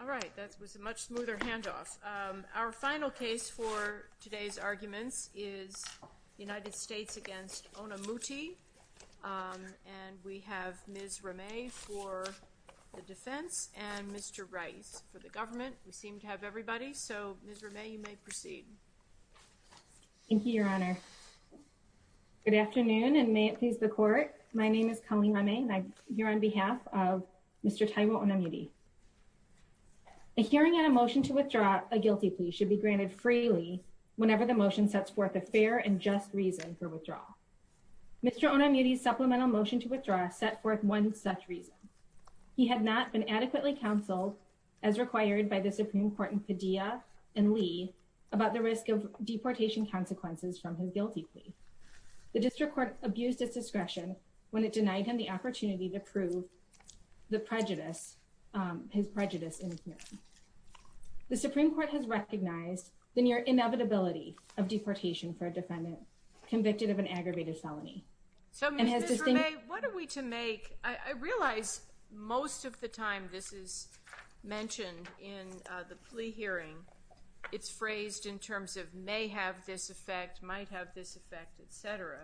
All right, that was a much smoother handoff. Our final case for today's arguments is the United States against Onamuti, and we have Ms. Rameh for the defense and Mr. Rice for the government. We seem to have everybody, so Ms. Rameh, you may proceed. Thank you, Your Honor. Good afternoon, and may it please the court. My name is Ms. Rameh Rice, and I'm here to defend Mr. Onamuti. A hearing on a motion to withdraw a guilty plea should be granted freely whenever the motion sets forth a fair and just reason for withdrawal. Mr. Onamuti's supplemental motion to withdraw set forth one such reason. He had not been adequately counseled, as required by the Supreme Court in Padilla and Lee, about the risk of deportation consequences from his guilty plea. The district court abused its discretion when it denied him the opportunity to prove the prejudice, his prejudice. The Supreme Court has recognized the near inevitability of deportation for a defendant convicted of an aggravated felony. So, Ms. Rameh, what are we to make? I realize most of the time this is mentioned in the plea hearing, it's phrased in terms of may have this effect, etc.,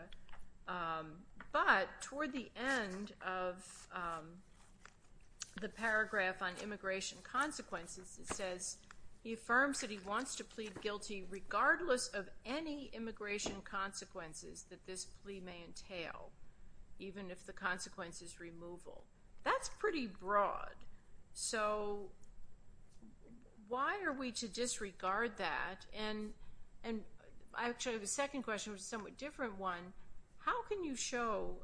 but toward the end of the paragraph on immigration consequences, it says he affirms that he wants to plead guilty regardless of any immigration consequences that this plea may entail, even if the consequence is removal. That's pretty broad. So, why are we to disregard that? And I actually have a second question, which is a somewhat different one. How can you show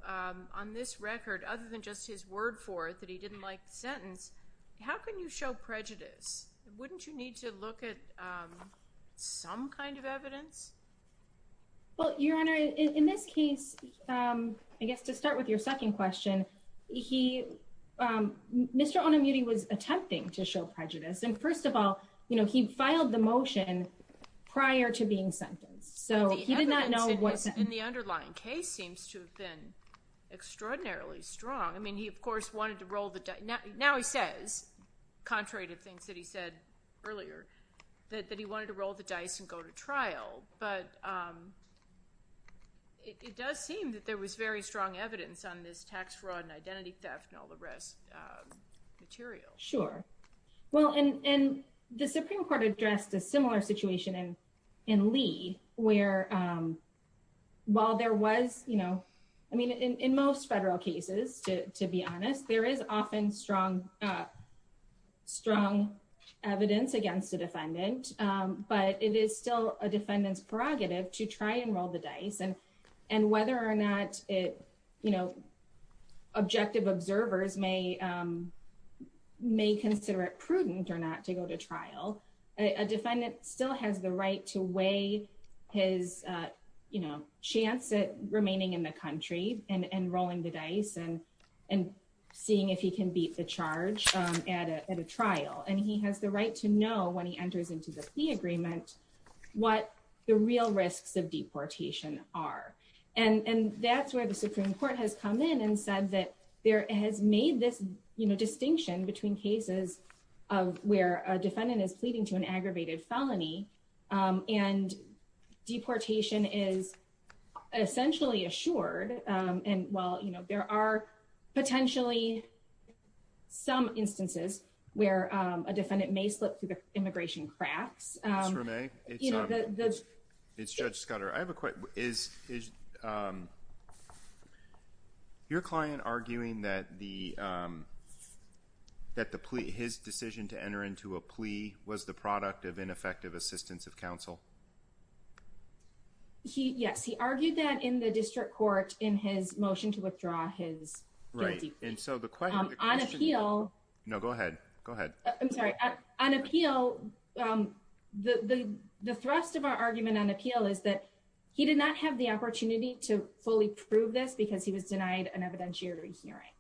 on this record, other than just his word for it that he didn't like the sentence, how can you show prejudice? Wouldn't you need to look at some kind of evidence? Well, Your Honor, in this case, I guess to start with your second question, Mr. Onamuti was attempting to show prejudice, and first of all, you know, he filed the motion prior to being sentenced, so he did not know what sentence. And the evidence in the underlying case seems to have been extraordinarily strong. I mean, he of course wanted to roll the dice. Now he says, contrary to things that he said earlier, that he wanted to roll the dice and go to trial, but it does seem that there was very strong evidence on this tax fraud and identity theft and all the rest material. Sure. Well, and the similar situation in Lee, where while there was, you know, I mean, in most federal cases, to be honest, there is often strong evidence against a defendant, but it is still a defendant's prerogative to try and roll the dice. And whether or not, you know, objective observers may consider it still has the right to weigh his, you know, chance at remaining in the country and rolling the dice and, and seeing if he can beat the charge at a trial. And he has the right to know when he enters into the plea agreement, what the real risks of deportation are. And that's where the Supreme Court has come in and said that there has made this, you know, distinction between cases of where a defendant may slip through the immigration cracks, where a defendant may slip through the immigration cracks, and deportation is essentially assured. And, well, you know, there are potentially some instances where a defendant may slip through the immigration cracks. Ms. Romay, it's Judge Scudder. I have a question. Is your client arguing that the, that the plea, his decision to enter into a plea was the product of ineffective assistance of counsel? He, yes, he argued that in the district court in his motion to withdraw his guilty plea. And so the question... On appeal... No, go ahead. Go ahead. I'm sorry. On appeal, the thrust of our argument on appeal is that he did not have the opportunity to fully prove this because he was denied an evidentiary hearing.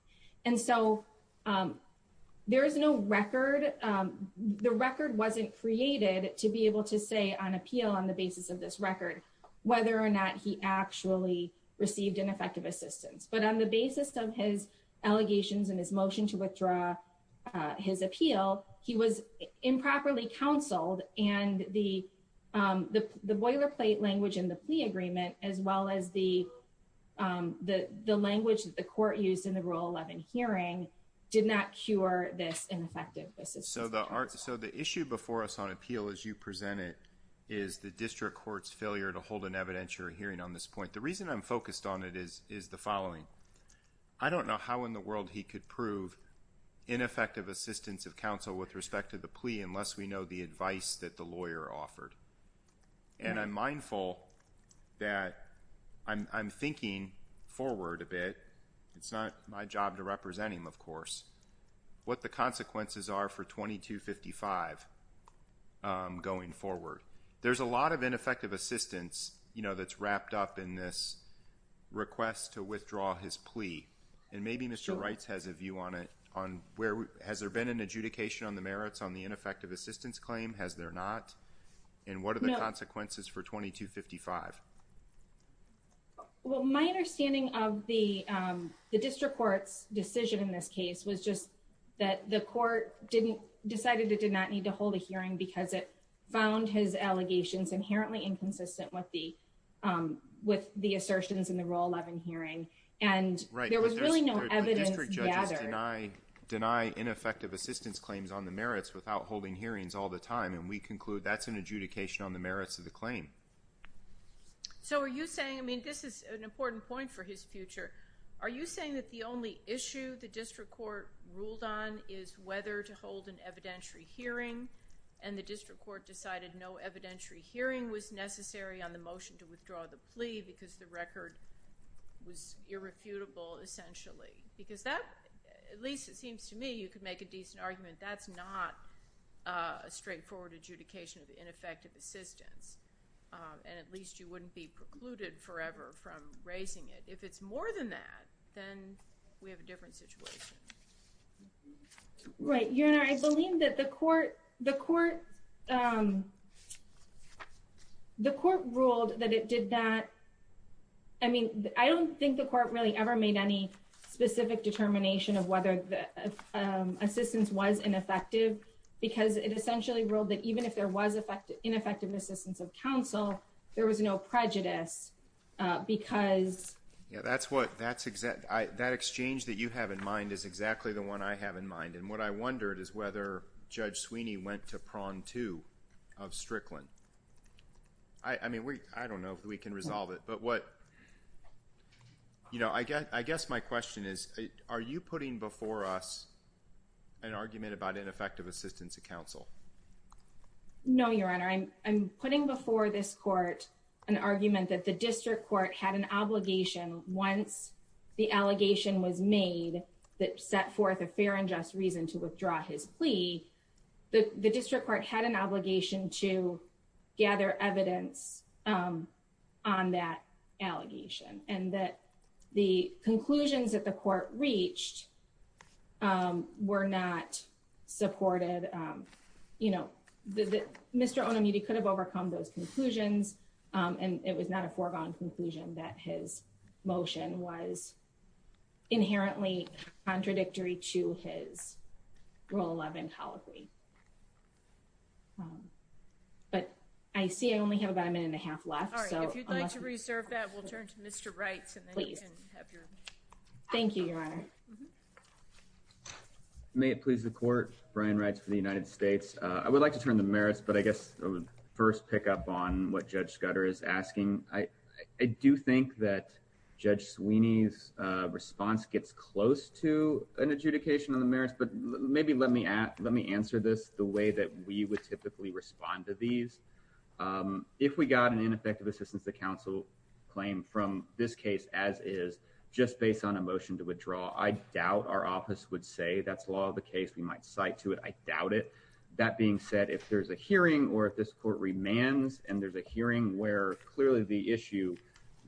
And so there is no record, the record wasn't created to be able to say on appeal on the basis of this record, whether or not he actually received ineffective assistance. But on the basis of his allegations and his motion to withdraw his appeal, he was improperly counseled. And the boilerplate language in the plea agreement, as well as the language that the court used in the Rule 11 hearing, did not cure this ineffective assistance. So the issue before us on appeal, as you present it, is the district court's failure to hold an evidentiary hearing on this point. The reason I'm focused on it is the following. I don't know how in the world he could prove ineffective assistance of counsel with respect to the plea unless we know the advice that the lawyer offered. And I'm mindful that I'm thinking forward a bit. It's not my job to represent him, of course, what the consequences are for 2255 going forward. There's a lot of ineffective assistance, you know, that's wrapped up in this request to withdraw his plea. And maybe Mr. Wrights has a view on it on where has there been an adjudication on the merits on the ineffective assistance claim? Has there not? And what are the consequences for 2255? Well, my understanding of the district court's decision in this case was just that the court decided it did not need to hold a hearing because it found his allegations inherently inconsistent with the assertions in the Rule 11 hearing. And there was really no evidence gathered. Right, but district judges deny ineffective assistance claims on the merits without holding hearings all the time. And we conclude that's an adjudication on the merits of the claim. So are you saying, I mean, this is an important point for his future, are you saying that the only issue the district court ruled on is whether to hold an evidentiary hearing and the district court decided no evidentiary hearing was necessary on the motion to withdraw the plea because the record was irrefutable essentially? Because that, at least it seems to me, you could make a decent argument, that's not a straightforward adjudication of ineffective assistance. And at least you wouldn't be precluded forever from raising it. If it's more than that, then we have a different situation. Right. Your Honor, I believe that the court ruled that it did that. I mean, I don't think the court really ever made any specific determination of whether the assistance was ineffective because it essentially ruled that even if there was ineffective assistance of counsel, there was no prejudice because That exchange that you have in mind is exactly the one I have in mind. And what I wondered is whether Judge Sweeney went to prong two of Strickland. I mean, I don't know if we can resolve it, but what, you know, I guess my question is, are you putting before us an argument about ineffective assistance of counsel? No, Your Honor, I'm putting before this court an argument that the district court had an obligation once the allegation was made that set forth a fair and just reason to withdraw his plea. The district court had an obligation to gather evidence on that allegation and that the conclusions that the court reached were not supported. And, you know, Mr. Onomichi could have overcome those conclusions, and it was not a foregone conclusion that his motion was inherently contradictory to his Rule 11 policy. But I see I only have about a minute and a half left. If you'd like to reserve that, we'll turn to Mr. Wright. Thank you, Your Honor. May it please the court, Brian Wright for the United States. I would like to turn the merits, but I guess I would first pick up on what Judge Scudder is asking. I do think that Judge Sweeney's response gets close to an adjudication on the merits, but maybe let me let me answer this the way that we would typically respond to these. If we got an ineffective assistance, the council claim from this case, as is just based on a motion to withdraw. I doubt our office would say that's law of the case. We might cite to it. I doubt it. That being said, if there's a hearing, or if this court remands, and there's a hearing where clearly the issue,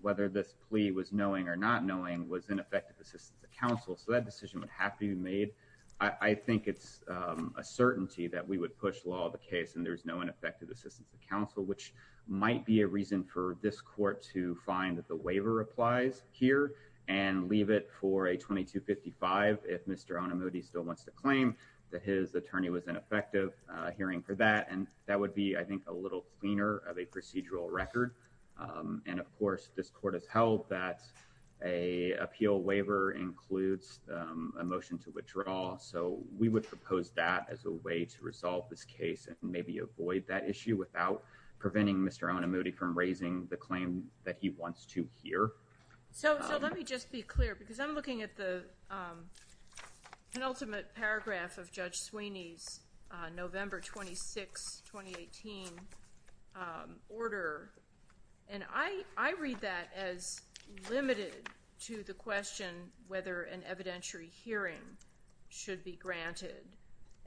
whether this plea was knowing or not knowing was ineffective assistance to counsel. So that decision would have to be made. I think it's a certainty that we would push law of the case, and there's no ineffective assistance to counsel, which might be a reason for this court to find that the waiver applies here and leave it for a 2255. If Mr on a movie still wants to claim that his attorney was ineffective hearing for that, and that would be, I think, a little cleaner of a procedural record. And, of course, this court has held that a appeal waiver includes a motion to withdraw. So we would propose that as a way to resolve this case and maybe avoid that issue without preventing Mr on a movie from raising the claim that he wants to hear. So let me just be clear, because I'm looking at the penultimate paragraph of Judge Sweeney's November 26, 2018, order. And I read that as limited to the question whether an evidentiary hearing should be granted.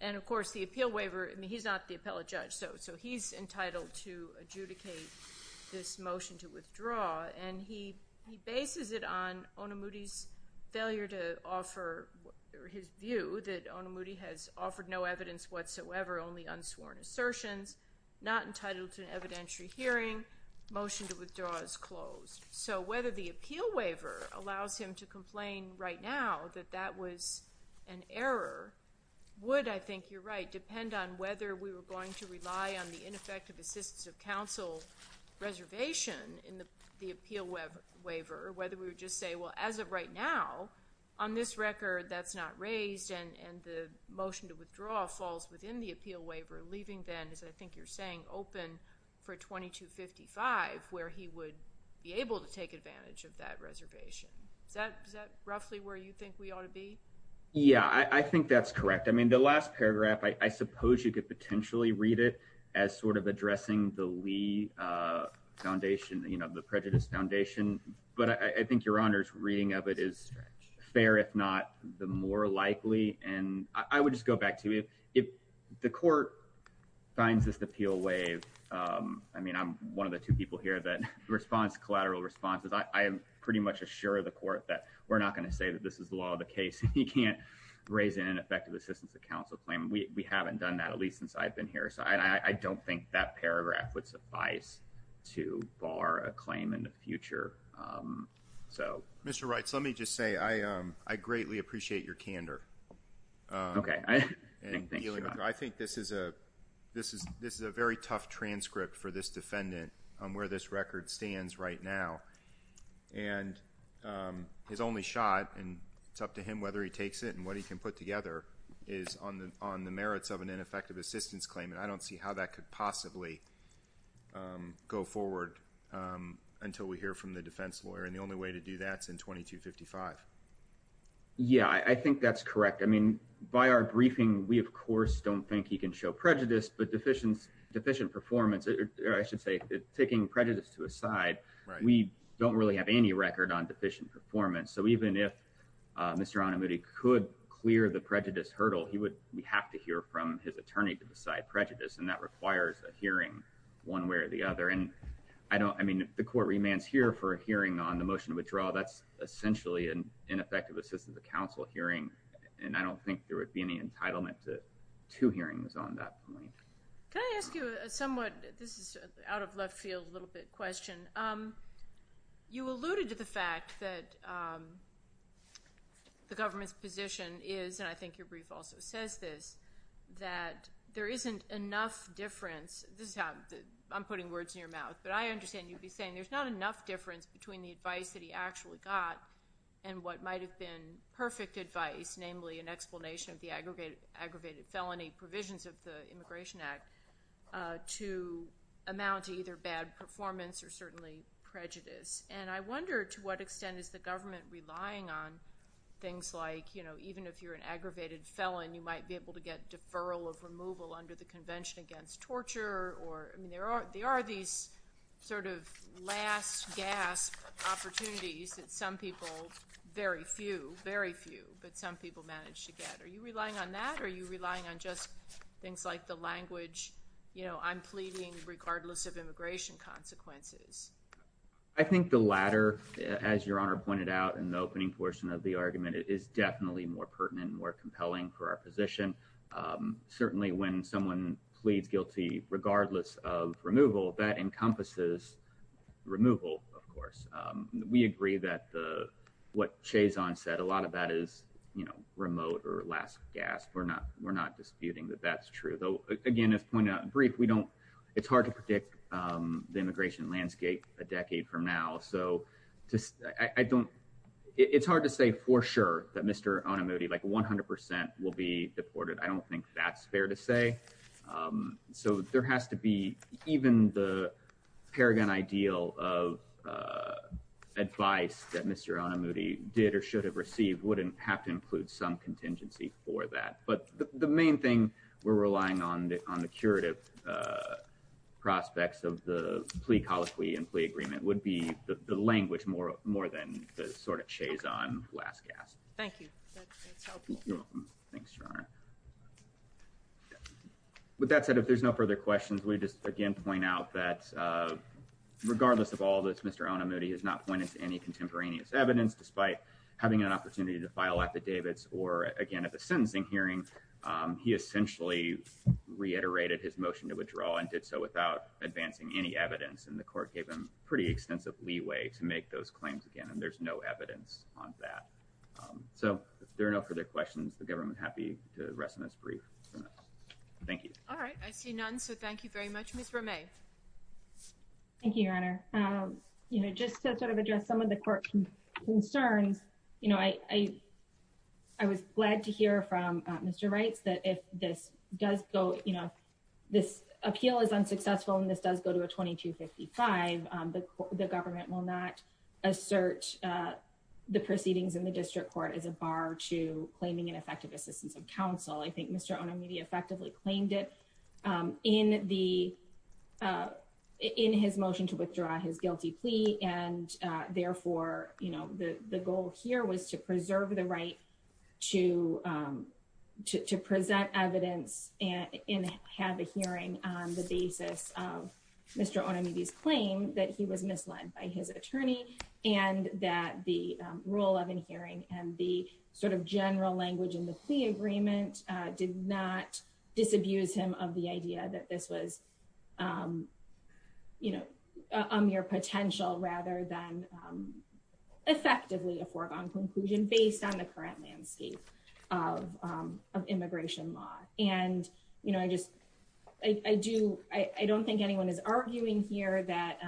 And, of course, the appeal waiver, I mean, he's not the appellate judge, so he's entitled to adjudicate this motion to withdraw. And he bases it on on a Moody's failure to offer his view that on a Moody has offered no evidence whatsoever. Only unsworn assertions not entitled to an evidentiary hearing motion to withdraw is closed. So whether the appeal waiver allows him to complain right now that that was an error would, I think you're right, depend on whether we were going to rely on the ineffective assistance of counsel reservation in the appeal waiver, whether we would just say, well, as of right now, on this record, that's not raised, and the motion to withdraw falls within the appeal waiver, leaving then, as I think you're saying, open for 2255, where he would be able to take advantage of that reservation. Is that roughly where you think we ought to be? Yeah, I think that's correct. I mean, the last paragraph, I suppose you could potentially read it as sort of addressing the Lee Foundation, you know, the Prejudice Foundation. But I think Your Honor's reading of it is fair, if not the more likely. And I would just go back to it. If the court finds this appeal wave. I mean, I'm one of the two people here that response collateral responses. I am pretty much assure the court that we're not going to say that this is the law of the case. You can't raise an ineffective assistance of counsel claim. We haven't done that, at least since I've been here. So I don't think that paragraph would suffice to bar a claim in the future. Mr. Reitz, let me just say I greatly appreciate your candor. Okay. I think this is a very tough transcript for this defendant on where this record stands right now. And his only shot, and it's up to him whether he takes it and what he can put together, is on the merits of an ineffective assistance claim. And I don't see how that could possibly go forward until we hear from the defense lawyer. And the only way to do that is in 2255. Yeah, I think that's correct. I mean, by our briefing, we, of course, don't think he can show prejudice. But deficient performance, or I should say taking prejudice to his side, we don't really have any record on deficient performance. So even if Mr. Anamuti could clear the prejudice hurdle, he would have to hear from his attorney to decide prejudice. And that requires a hearing one way or the other. And I mean, if the court remands here for a hearing on the motion to withdraw, that's essentially an ineffective assistance of counsel hearing. And I don't think there would be any entitlement to two hearings on that point. Can I ask you a somewhat – this is out of left field, a little bit – question. You alluded to the fact that the government's position is, and I think your brief also says this, that there isn't enough difference. This is how I'm putting words in your mouth. But I understand you'd be saying there's not enough difference between the advice that he actually got and what might have been perfect advice, namely an explanation of the aggravated felony provisions of the Immigration Act, to amount to either bad performance or certainly prejudice. And I wonder to what extent is the government relying on things like even if you're an aggravated felon, you might be able to get deferral of removal under the Convention Against Torture. I mean, there are these sort of last gasp opportunities that some people – very few, very few – but some people manage to get. Are you relying on that or are you relying on just things like the language, you know, I'm pleading regardless of immigration consequences? I think the latter, as Your Honor pointed out in the opening portion of the argument, is definitely more pertinent and more compelling for our position. Certainly when someone pleads guilty regardless of removal, that encompasses removal, of course. We agree that what Chazon said, a lot of that is, you know, remote or last gasp. We're not disputing that that's true, though, again, as pointed out in brief, we don't – it's hard to predict the immigration landscape a decade from now. So I don't – it's hard to say for sure that Mr. Onomuchi, like 100 percent, will be deported. I don't think that's fair to say. So there has to be – even the paragon ideal of advice that Mr. Onomuchi did or should have received wouldn't have to include some contingency for that. But the main thing we're relying on on the curative prospects of the plea colloquy and plea agreement would be the language more than the sort of Chazon last gasp. Thank you. That's helpful. You're welcome. Thanks, Your Honor. With that said, if there's no further questions, let me just again point out that regardless of all this, Mr. Onomuchi has not pointed to any contemporaneous evidence, despite having an opportunity to file affidavits or, again, at the sentencing hearing, he essentially reiterated his motion to withdraw and did so without advancing any evidence, and the court gave him pretty extensive leeway to make those claims again, and there's no evidence on that. So if there are no further questions, the government is happy to rest on its brief. Thank you. All right. I see none, so thank you very much. Ms. Romay. Thank you, Your Honor. You know, just to sort of address some of the court concerns, you know, I was glad to hear from Mr. Reitz that if this does go, you know, this appeal is unsuccessful and this does go to a 2255, the government will not assert the proceedings in the district court as a bar to claiming an effective assistance of counsel. I think Mr. Onomuchi effectively claimed it in his motion to withdraw his guilty plea, and therefore, you know, the goal here was to preserve the right to present evidence and have a hearing on the basis of Mr. Onomuchi's claim that he was misled by his attorney and that the rule of an hearing and the sort of general language in the plea agreement did not disabuse him of the idea that this was, you know, a mere potential rather than effectively a foregone conclusion based on the current landscape of immigration law. And, you know, I just I do I don't think anyone is arguing here that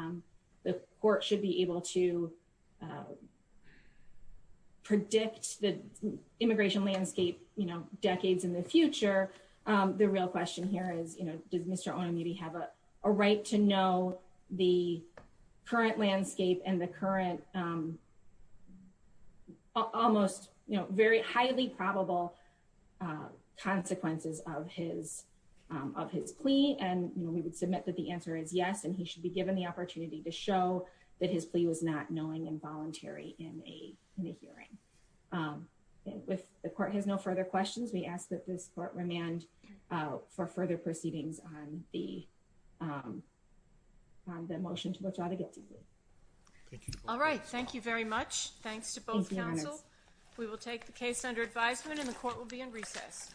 the court should be able to predict the immigration landscape, you know, decades in the future. The real question here is, you know, does Mr. Onomuchi have a right to know the current landscape and the current almost, you know, very highly probable consequences of his of his plea? And, you know, we would submit that the answer is yes, and he should be given the opportunity to show that his plea was not knowing and voluntary in a hearing. If the court has no further questions, we ask that this court remand for further proceedings on the motion to withdraw the guilty plea. All right. Thank you very much. Thanks to both counsel. We will take the case under advisement and the court will be in recess.